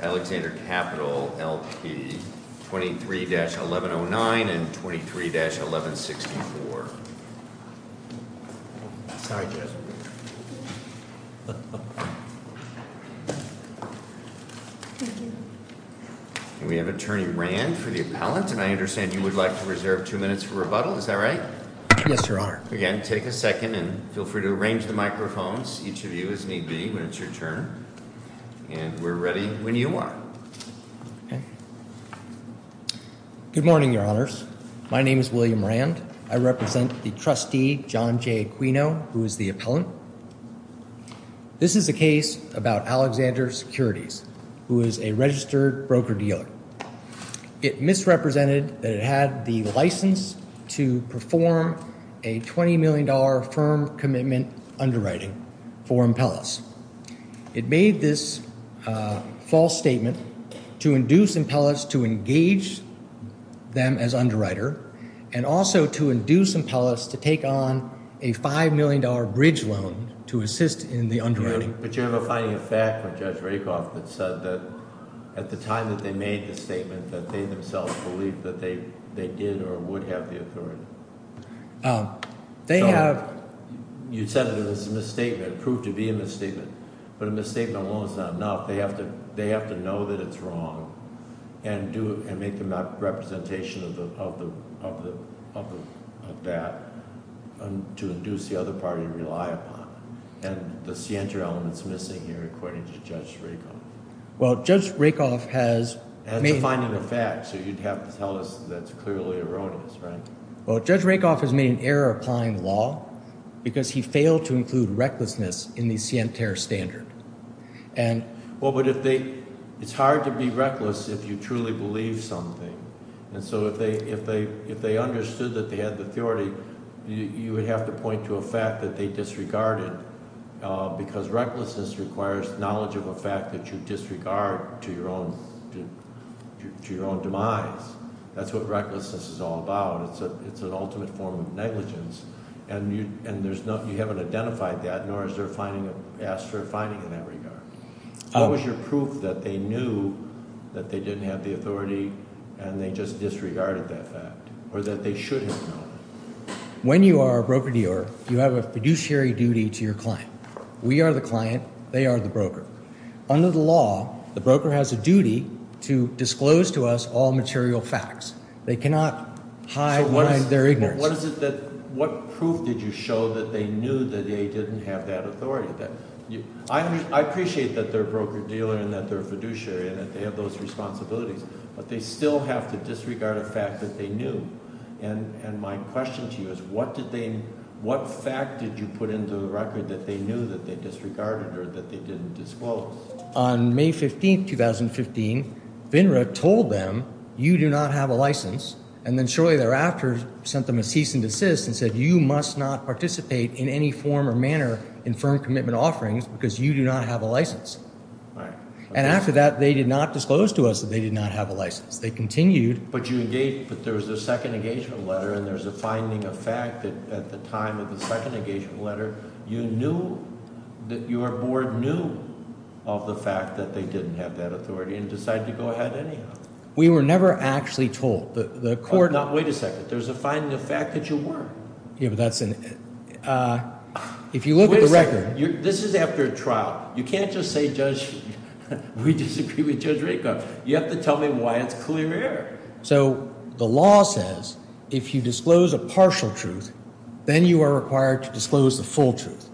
Alexander Capital, L.P. 23-1109 and 23-1164. We have Attorney Rand for the appellant, and I understand you would like to reserve two minutes for rebuttal, is that right? Yes, Your Honor. Again, take a second and feel free to arrange the microphones, each of you as need be when it's your turn. And we're ready when you are. Good morning, Your Honors. My name is William Rand. I represent the trustee, John J. Aquino, who is the appellant. This is a case about Alexander Securities, who is a registered broker dealer. It misrepresented that it had the license to perform a $20 million firm commitment underwriting for impellers. It made this false statement to induce impellers to engage them as underwriter, and also to induce impellers to take on a $5 million bridge loan to assist in the underwriting. But you have a finding of fact from Judge Rakoff that said that at the time that they made the statement, that they themselves believed that they did or would have the authority. They have... You said it was a misstatement, proved to be a misstatement, but a misstatement alone is not enough. They have to know that it's wrong and make the representation of that to induce the other party to rely upon. And the scienter element is missing here, according to Judge Rakoff. Well, Judge Rakoff has... And it's a finding of fact, so you'd have to tell us that it's clearly erroneous, right? Well, Judge Rakoff has made an error applying the law because he failed to include recklessness in the scienter standard. And... Well, but if they... it's hard to be reckless if you truly believe something. And so if they understood that they had the authority, you would have to point to a fact that they disregarded because recklessness requires knowledge of a fact that you disregard to your own demise. That's what recklessness is all about. It's an ultimate form of negligence, and you haven't identified that, nor is there a finding of... asked for a finding in that regard. What was your proof that they knew that they didn't have the authority and they just disregarded that fact or that they should have known? When you are a broker-dealer, you have a fiduciary duty to your client. We are the client. They are the broker. Under the law, the broker has a duty to disclose to us all material facts. They cannot hide behind their ignorance. So what is it that... what proof did you show that they knew that they didn't have that authority? I appreciate that they're a broker-dealer and that they're a fiduciary and that they have those responsibilities, but they still have to disregard a fact that they knew. And my question to you is what did they... what fact did you put into the record that they knew that they disregarded or that they didn't disclose? On May 15, 2015, FINRA told them, you do not have a license, and then shortly thereafter sent them a cease and desist and said, you must not participate in any form or manner in firm commitment offerings because you do not have a license. And after that, they did not disclose to us that they did not have a license. They continued... But you engaged... but there was a second engagement letter and there's a finding of fact that at the time of the second engagement letter, you knew that your board knew of the fact that they didn't have that authority and decided to go ahead anyhow. We were never actually told. The court... Now, wait a second. There's a finding of fact that you weren't. Yeah, but that's... if you look at the record... Wait a second. This is after a trial. You can't just say, Judge, we disagree with Judge Ritkoff. You have to tell me why it's clear error. So the law says if you disclose a partial truth, then you are required to disclose the full truth.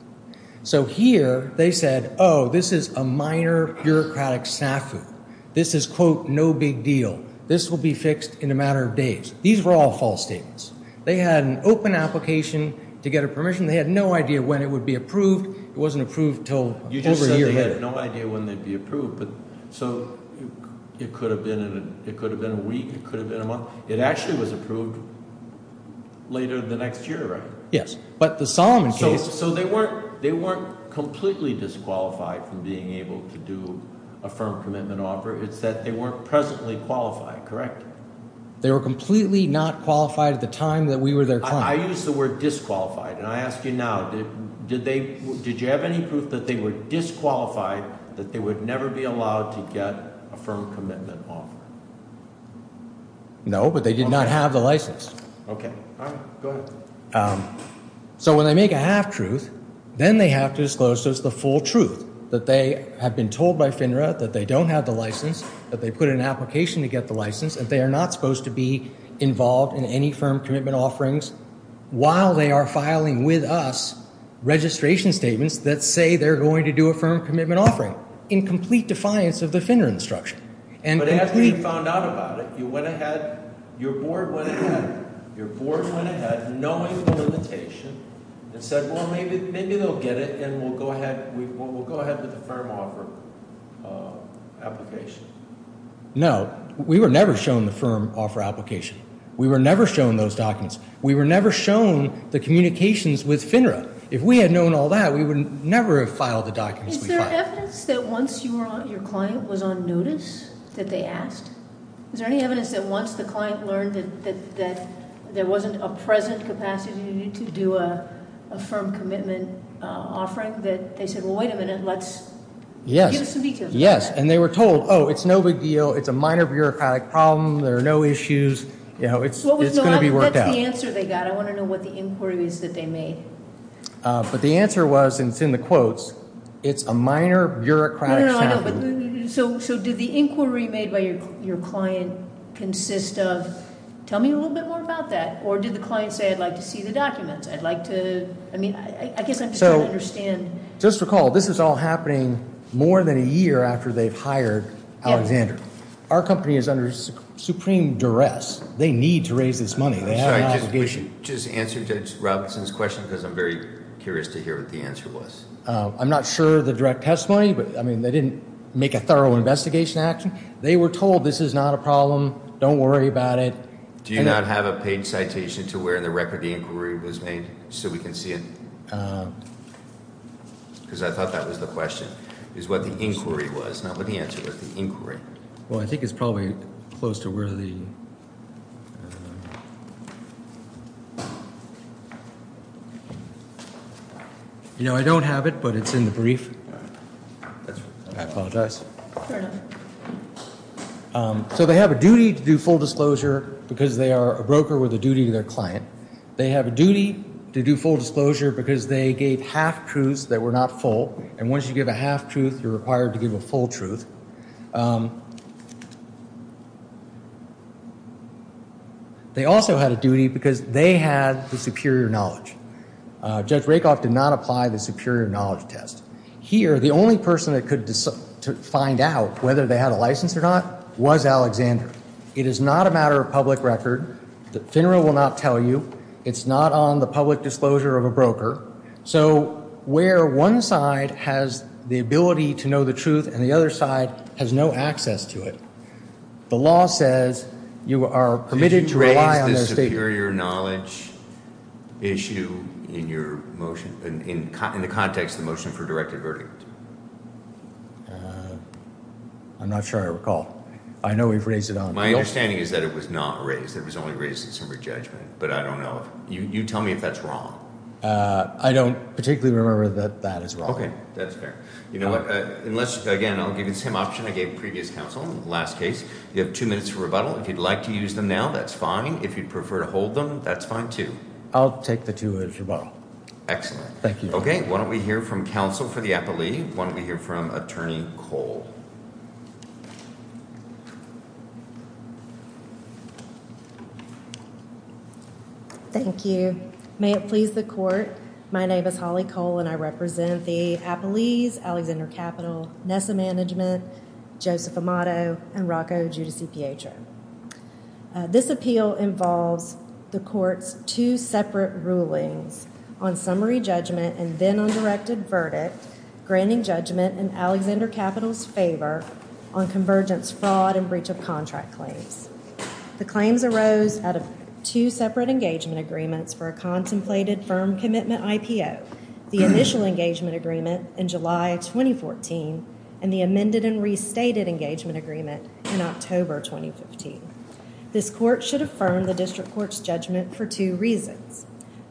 So here, they said, oh, this is a minor bureaucratic snafu. This is, quote, no big deal. This will be fixed in a matter of days. These were all false statements. They had an open application to get a permission. They had no idea when it would be approved. It wasn't approved until over a year later. You just said they had no idea when they'd be approved. So it could have been a week. It could have been a month. Yes, but the Solomon case... So they weren't completely disqualified from being able to do a firm commitment offer. It's that they weren't presently qualified, correct? They were completely not qualified at the time that we were their client. I use the word disqualified, and I ask you now. Did you have any proof that they were disqualified, that they would never be allowed to get a firm commitment offer? No, but they did not have the license. Okay. All right. Go ahead. So when they make a half-truth, then they have to disclose the full truth, that they have been told by FINRA that they don't have the license, that they put in an application to get the license, and they are not supposed to be involved in any firm commitment offerings while they are filing with us registration statements that say they're going to do a firm commitment offering, in complete defiance of the FINRA instruction. But after you found out about it, you went ahead... your board went ahead. Your board went ahead, knowing the limitation, and said, well, maybe they'll get it, and we'll go ahead with the firm offer application. No. We were never shown the firm offer application. We were never shown those documents. We were never shown the communications with FINRA. If we had known all that, we would never have filed the documents we filed. Is there evidence that once your client was on notice, that they asked? Is there any evidence that once the client learned that there wasn't a present capacity to do a firm commitment offering, that they said, well, wait a minute, let's... Yes. Give us some details. Yes, and they were told, oh, it's no big deal. It's a minor bureaucratic problem. There are no issues. You know, it's going to be worked out. What was the answer they got? I want to know what the inquiry is that they made. But the answer was, and it's in the quotes, it's a minor bureaucratic problem. So did the inquiry made by your client consist of, tell me a little bit more about that, or did the client say, I'd like to see the documents, I'd like to... I mean, I guess I'm just trying to understand. Just recall, this is all happening more than a year after they've hired Alexander. Our company is under supreme duress. They need to raise this money. They have an obligation. Just answer Judge Robinson's question, because I'm very curious to hear what the answer was. I'm not sure of the direct testimony, but, I mean, they didn't make a thorough investigation action. They were told this is not a problem. Don't worry about it. Do you not have a paid citation to where the record of the inquiry was made so we can see it? Because I thought that was the question, is what the inquiry was. Now, what did he answer with the inquiry? Well, I think it's probably close to where the... You know, I don't have it, but it's in the brief. I apologize. So they have a duty to do full disclosure because they are a broker with a duty to their client. They have a duty to do full disclosure because they gave half-truths that were not full, and once you give a half-truth, you're required to give a full truth. They also had a duty because they had the superior knowledge. Judge Rakoff did not apply the superior knowledge test. Here, the only person that could find out whether they had a license or not was Alexander. It is not a matter of public record. The FINRA will not tell you. It's not on the public disclosure of a broker. So where one side has the ability to know the truth and the other side has no access to it, the law says you are permitted to rely on... Did you raise the superior knowledge issue in the context of the motion for a directed verdict? I'm not sure I recall. I know we've raised it on... My understanding is that it was not raised. It was only raised in summary judgment, but I don't know. You tell me if that's wrong. I don't particularly remember that that is wrong. Okay. That's fair. You know what? Again, I'll give you the same option I gave previous counsel in the last case. You have two minutes for rebuttal. If you'd like to use them now, that's fine. If you'd prefer to hold them, that's fine, too. I'll take the two minutes rebuttal. Excellent. Thank you. Okay. Why don't we hear from counsel for the appellee? Why don't we hear from Attorney Cole? Thank you. May it please the Court, my name is Holly Cole, and I represent the Appellees Alexander Capital, Nessa Management, Joseph Amato, and Rocco Giudice-Pietro. This appeal involves the Court's two separate rulings on summary judgment and then on directed verdict, granting judgment in Alexander Capital's favor on convergence fraud and breach of contract claims. The claims arose out of two separate engagement agreements for a contemplated firm commitment IPO, the initial engagement agreement in July 2014 and the amended and restated engagement agreement in October 2015. This Court should affirm the District Court's judgment for two reasons.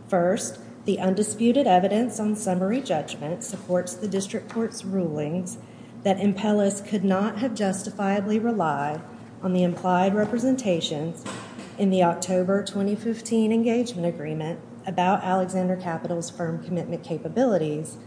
First, the undisputed evidence on summary judgment supports the District Court's rulings that Impellis could not have justifiably relied on the implied representations in the October 2015 engagement agreement about Alexander Capital's firm commitment capabilities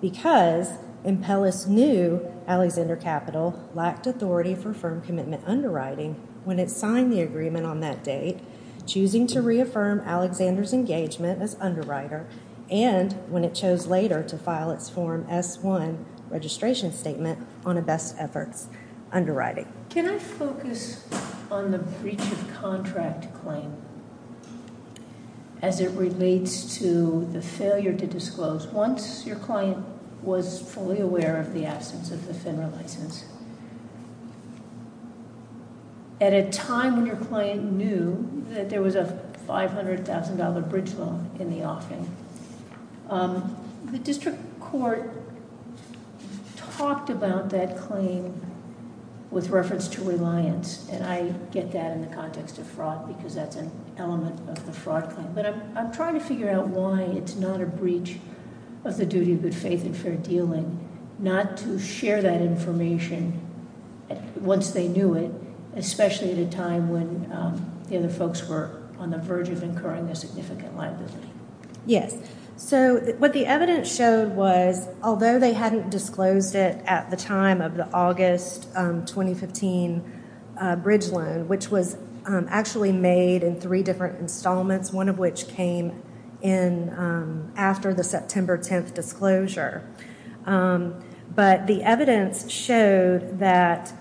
because Impellis knew Alexander Capital lacked authority for firm commitment underwriting when it signed the agreement on that date, choosing to reaffirm Alexander's engagement as underwriter, and when it chose later to file its Form S-1 registration statement on a best efforts underwriting. Can I focus on the breach of contract claim as it relates to the failure to disclose? Once your client was fully aware of the absence of the FINRA license, at a time when your client knew that there was a $500,000 bridge loan in the offing, the District Court talked about that claim with reference to reliance, and I get that in the context of fraud because that's an element of the fraud claim, but I'm trying to figure out why it's not a breach of the duty of good faith and fair dealing not to share that information once they knew it, especially at a time when the other folks were on the verge of incurring a significant liability. Yes. So what the evidence showed was, although they hadn't disclosed it at the time of the August 2015 bridge loan, which was actually made in three different installments, one of which came in after the September 10th disclosure, but the evidence showed that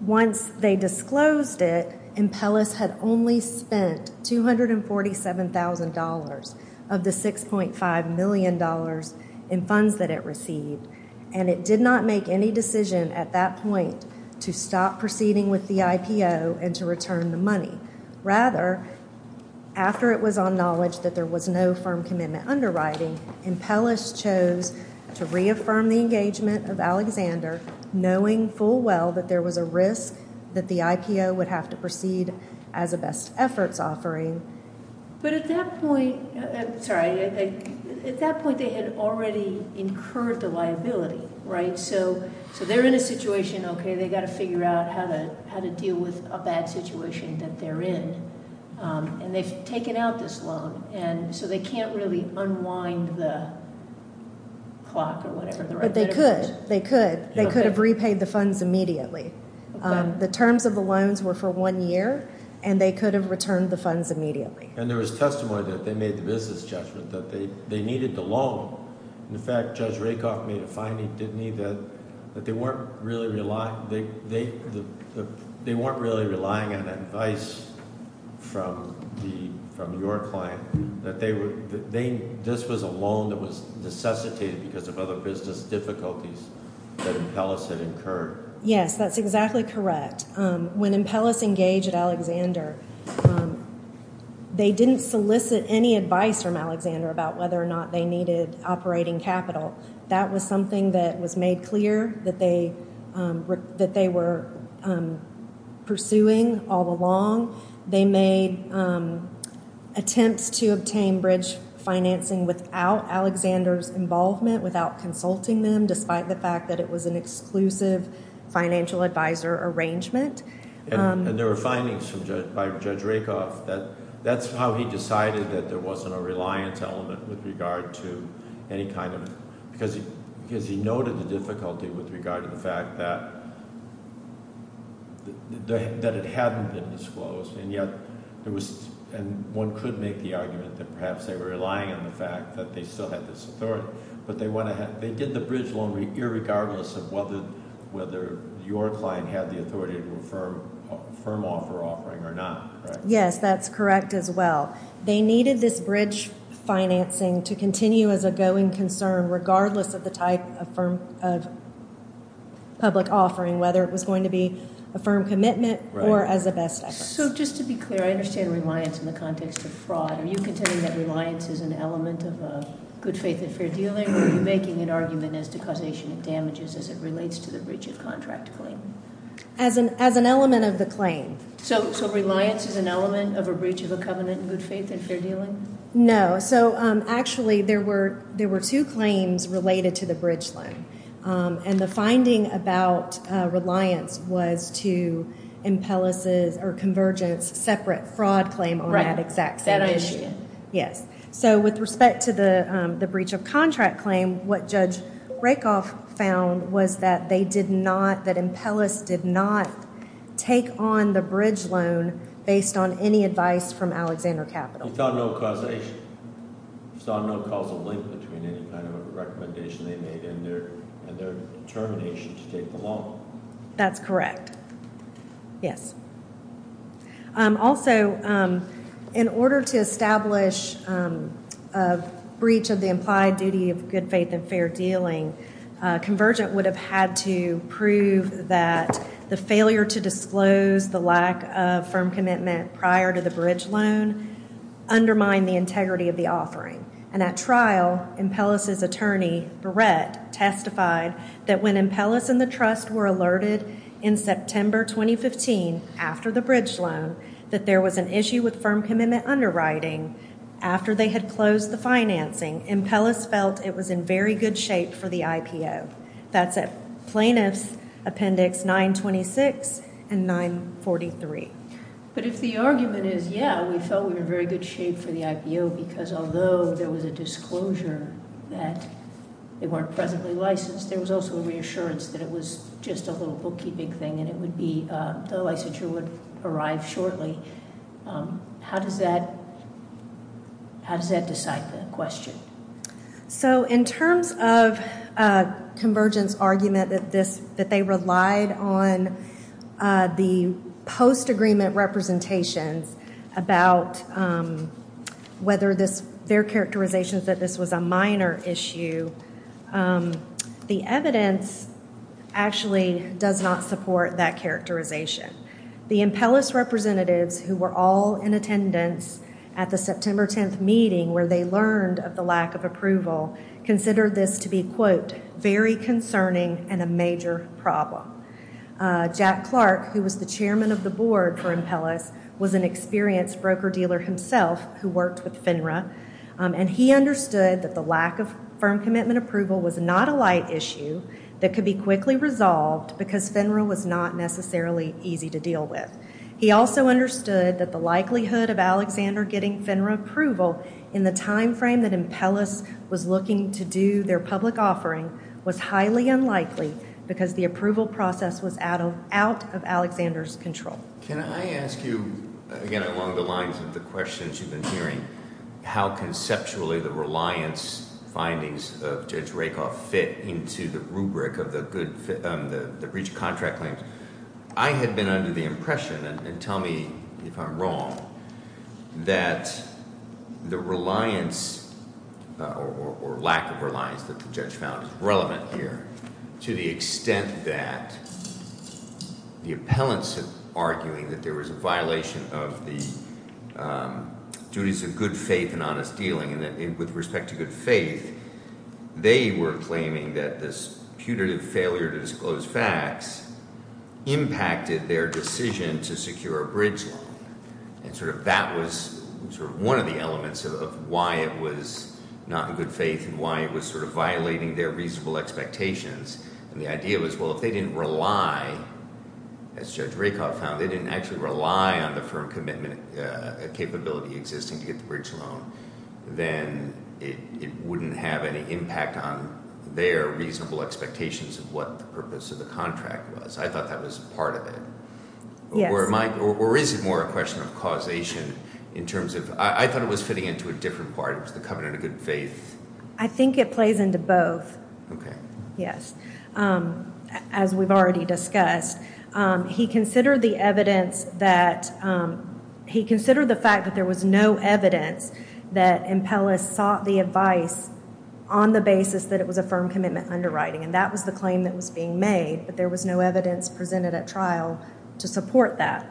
once they disclosed it, Impellis had only spent $247,000 of the $6.5 million in funds that it received, and it did not make any decision at that point to stop proceeding with the IPO and to return the money. Rather, after it was on knowledge that there was no firm commitment underwriting, Impellis chose to reaffirm the engagement of Alexander, knowing full well that there was a risk that the IPO would have to proceed as a best efforts offering. But at that point they had already incurred the liability, right? So they're in a situation, okay, they've got to figure out how to deal with a bad situation that they're in, and they've taken out this loan, and so they can't really unwind the clock or whatever. But they could. They could. They could have repaid the funds immediately. The terms of the loans were for one year, and they could have returned the funds immediately. And there was testimony that they made the business judgment that they needed the loan. In fact, Judge Rakoff made a finding, didn't he, that they weren't really relying on advice from your client, that this was a loan that was necessitated because of other business difficulties that Impellis had incurred. Yes, that's exactly correct. When Impellis engaged Alexander, they didn't solicit any advice from Alexander about whether or not they needed operating capital. That was something that was made clear that they were pursuing all along. They made attempts to obtain bridge financing without Alexander's involvement, without consulting them, despite the fact that it was an exclusive financial advisor arrangement. And there were findings by Judge Rakoff that that's how he decided that there wasn't a reliance element with regard to any kind of – because he noted the difficulty with regard to the fact that it hadn't been disclosed, and yet there was – and one could make the argument that perhaps they were relying on the fact that they still had this authority, but they did the bridge loan regardless of whether your client had the authority to affirm offer offering or not, correct? Yes, that's correct as well. They needed this bridge financing to continue as a going concern regardless of the type of public offering, whether it was going to be a firm commitment or as a best effort. So just to be clear, I understand reliance in the context of fraud. Are you contending that reliance is an element of good faith and fair dealing, or are you making an argument as to causation of damages as it relates to the breach of contract claim? As an element of the claim. So reliance is an element of a breach of a covenant in good faith and fair dealing? No. So actually there were two claims related to the bridge loan, and the finding about reliance was to Impella's or Convergence's separate fraud claim on that exact same issue. Right, that I understand. Yes. So with respect to the breach of contract claim, what Judge Rakoff found was that they did not – that Impella's did not take on the bridge loan based on any advice from Alexander Capital. He found no causation. He saw no causal link between any kind of a recommendation they made and their determination to take the loan. That's correct. Yes. Also, in order to establish a breach of the implied duty of good faith and fair dealing, Convergent would have had to prove that the failure to disclose the lack of firm commitment prior to the bridge loan undermined the integrity of the offering. And at trial, Impella's attorney, Barrett, testified that when Impella's and the trust were alerted in September 2015 after the bridge loan, that there was an issue with firm commitment underwriting after they had closed the financing, Impella's felt it was in very good shape for the IPO. That's at Plaintiffs Appendix 926 and 943. But if the argument is, yeah, we felt we were in very good shape for the IPO because although there was a disclosure that they weren't presently licensed, there was also a reassurance that it was just a little bookkeeping thing and it would be – the licensure would arrive shortly, how does that – how does that decide the question? So in terms of Convergent's argument that this – that they relied on the post-agreement representations about whether this – their characterizations that this was a minor issue, the evidence actually does not support that characterization. The Impella's representatives who were all in attendance at the September 10th meeting where they learned of the lack of approval, considered this to be, quote, very concerning and a major problem. Jack Clark, who was the chairman of the board for Impella's, was an experienced broker-dealer himself who worked with FINRA, and he understood that the lack of firm commitment approval was not a light issue that could be quickly resolved because FINRA was not necessarily easy to deal with. He also understood that the likelihood of Alexander getting FINRA approval in the timeframe that Impella's was looking to do their public offering was highly unlikely because the approval process was out of Alexander's control. Can I ask you, again, along the lines of the questions you've been hearing, how conceptually the reliance findings of Judge Rakoff fit into the rubric of the good – the breach of contract claims? I had been under the impression, and tell me if I'm wrong, that the reliance or lack of reliance that the judge found is relevant here to the extent that the appellants are arguing that there was a violation of the duties of good faith and honest dealing, and that with respect to good faith, they were claiming that this putative failure to disclose facts impacted their decision to secure a bridge loan. And sort of that was sort of one of the elements of why it was not in good faith and why it was sort of violating their reasonable expectations. And the idea was, well, if they didn't rely, as Judge Rakoff found, they didn't actually rely on the firm commitment capability existing to get the bridge loan, then it wouldn't have any impact on their reasonable expectations of what the purpose of the contract was. I thought that was part of it. Yes. Or is it more a question of causation in terms of – I thought it was fitting into a different part. It was the covenant of good faith. I think it plays into both. Okay. Yes. As we've already discussed, he considered the evidence that – he considered the fact that there was no evidence that Impellus sought the advice on the basis that it was a firm commitment underwriting, and that was the claim that was being made, but there was no evidence presented at trial to support that.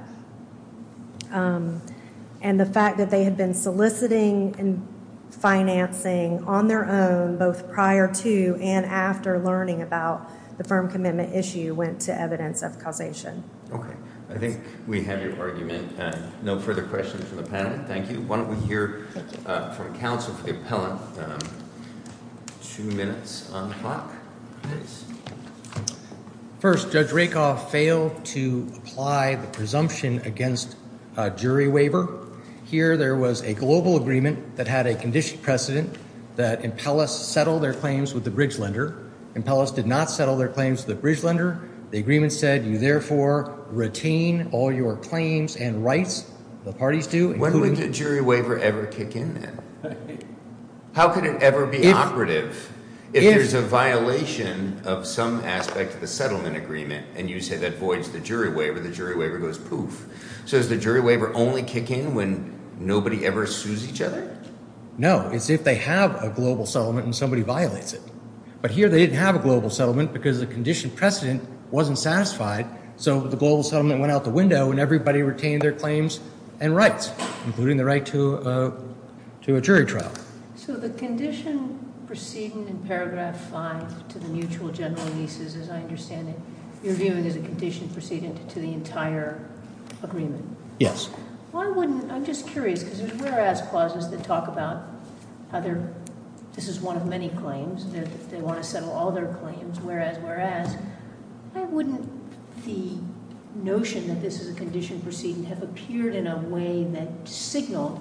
And the fact that they had been soliciting and financing on their own both prior to and after learning about the firm commitment issue went to evidence of causation. Okay. I think we have your argument. No further questions from the panel? Thank you. Why don't we hear from counsel for the appellant? Two minutes on the clock, please. First, Judge Rakoff failed to apply the presumption against jury waiver. Here there was a global agreement that had a condition precedent that Impellus settle their claims with the bridge lender. Impellus did not settle their claims with the bridge lender. The agreement said you therefore retain all your claims and rights, the parties do. When would a jury waiver ever kick in then? How could it ever be operative if there's a violation of some aspect of the settlement agreement and you say that voids the jury waiver, the jury waiver goes poof. So does the jury waiver only kick in when nobody ever sues each other? No. It's if they have a global settlement and somebody violates it. But here they didn't have a global settlement because the condition precedent wasn't satisfied, so the global settlement went out the window and everybody retained their claims and rights, including the right to a jury trial. So the condition precedent in paragraph 5 to the mutual general leases, as I understand it, you're viewing as a condition precedent to the entire agreement? Yes. I'm just curious because there's whereas clauses that talk about how this is one of many claims, they want to settle all their claims, whereas, whereas, why wouldn't the notion that this is a condition precedent have appeared in a way that signaled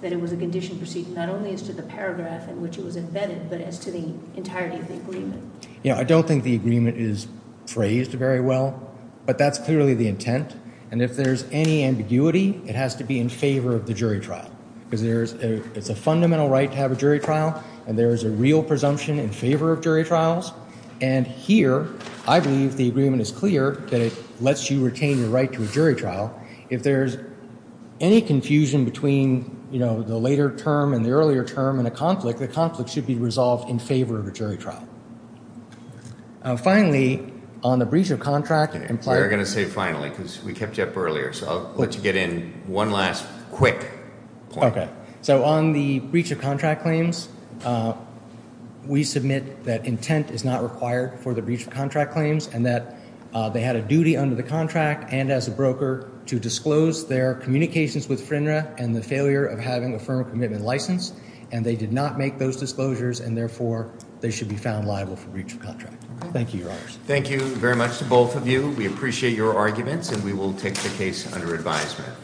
that it was a condition precedent, not only as to the paragraph in which it was embedded, but as to the entirety of the agreement? I don't think the agreement is phrased very well, but that's clearly the intent, and if there's any ambiguity, it has to be in favor of the jury trial because it's a fundamental right to have a jury trial and there is a real presumption in favor of jury trials, and here I believe the agreement is clear that it lets you retain your right to a jury trial. If there's any confusion between, you know, the later term and the earlier term in a conflict, the conflict should be resolved in favor of a jury trial. Finally, on the breach of contract. We're going to say finally because we kept you up earlier, so I'll let you get in one last quick point. Okay, so on the breach of contract claims, we submit that intent is not required for the breach of contract claims and that they had a duty under the contract and as a broker to disclose their communications with FINRA and the failure of having a firm commitment license, and they did not make those disclosures, and therefore they should be found liable for breach of contract. Thank you, Your Honors. Thank you very much to both of you. We appreciate your arguments, and we will take the case under advisement.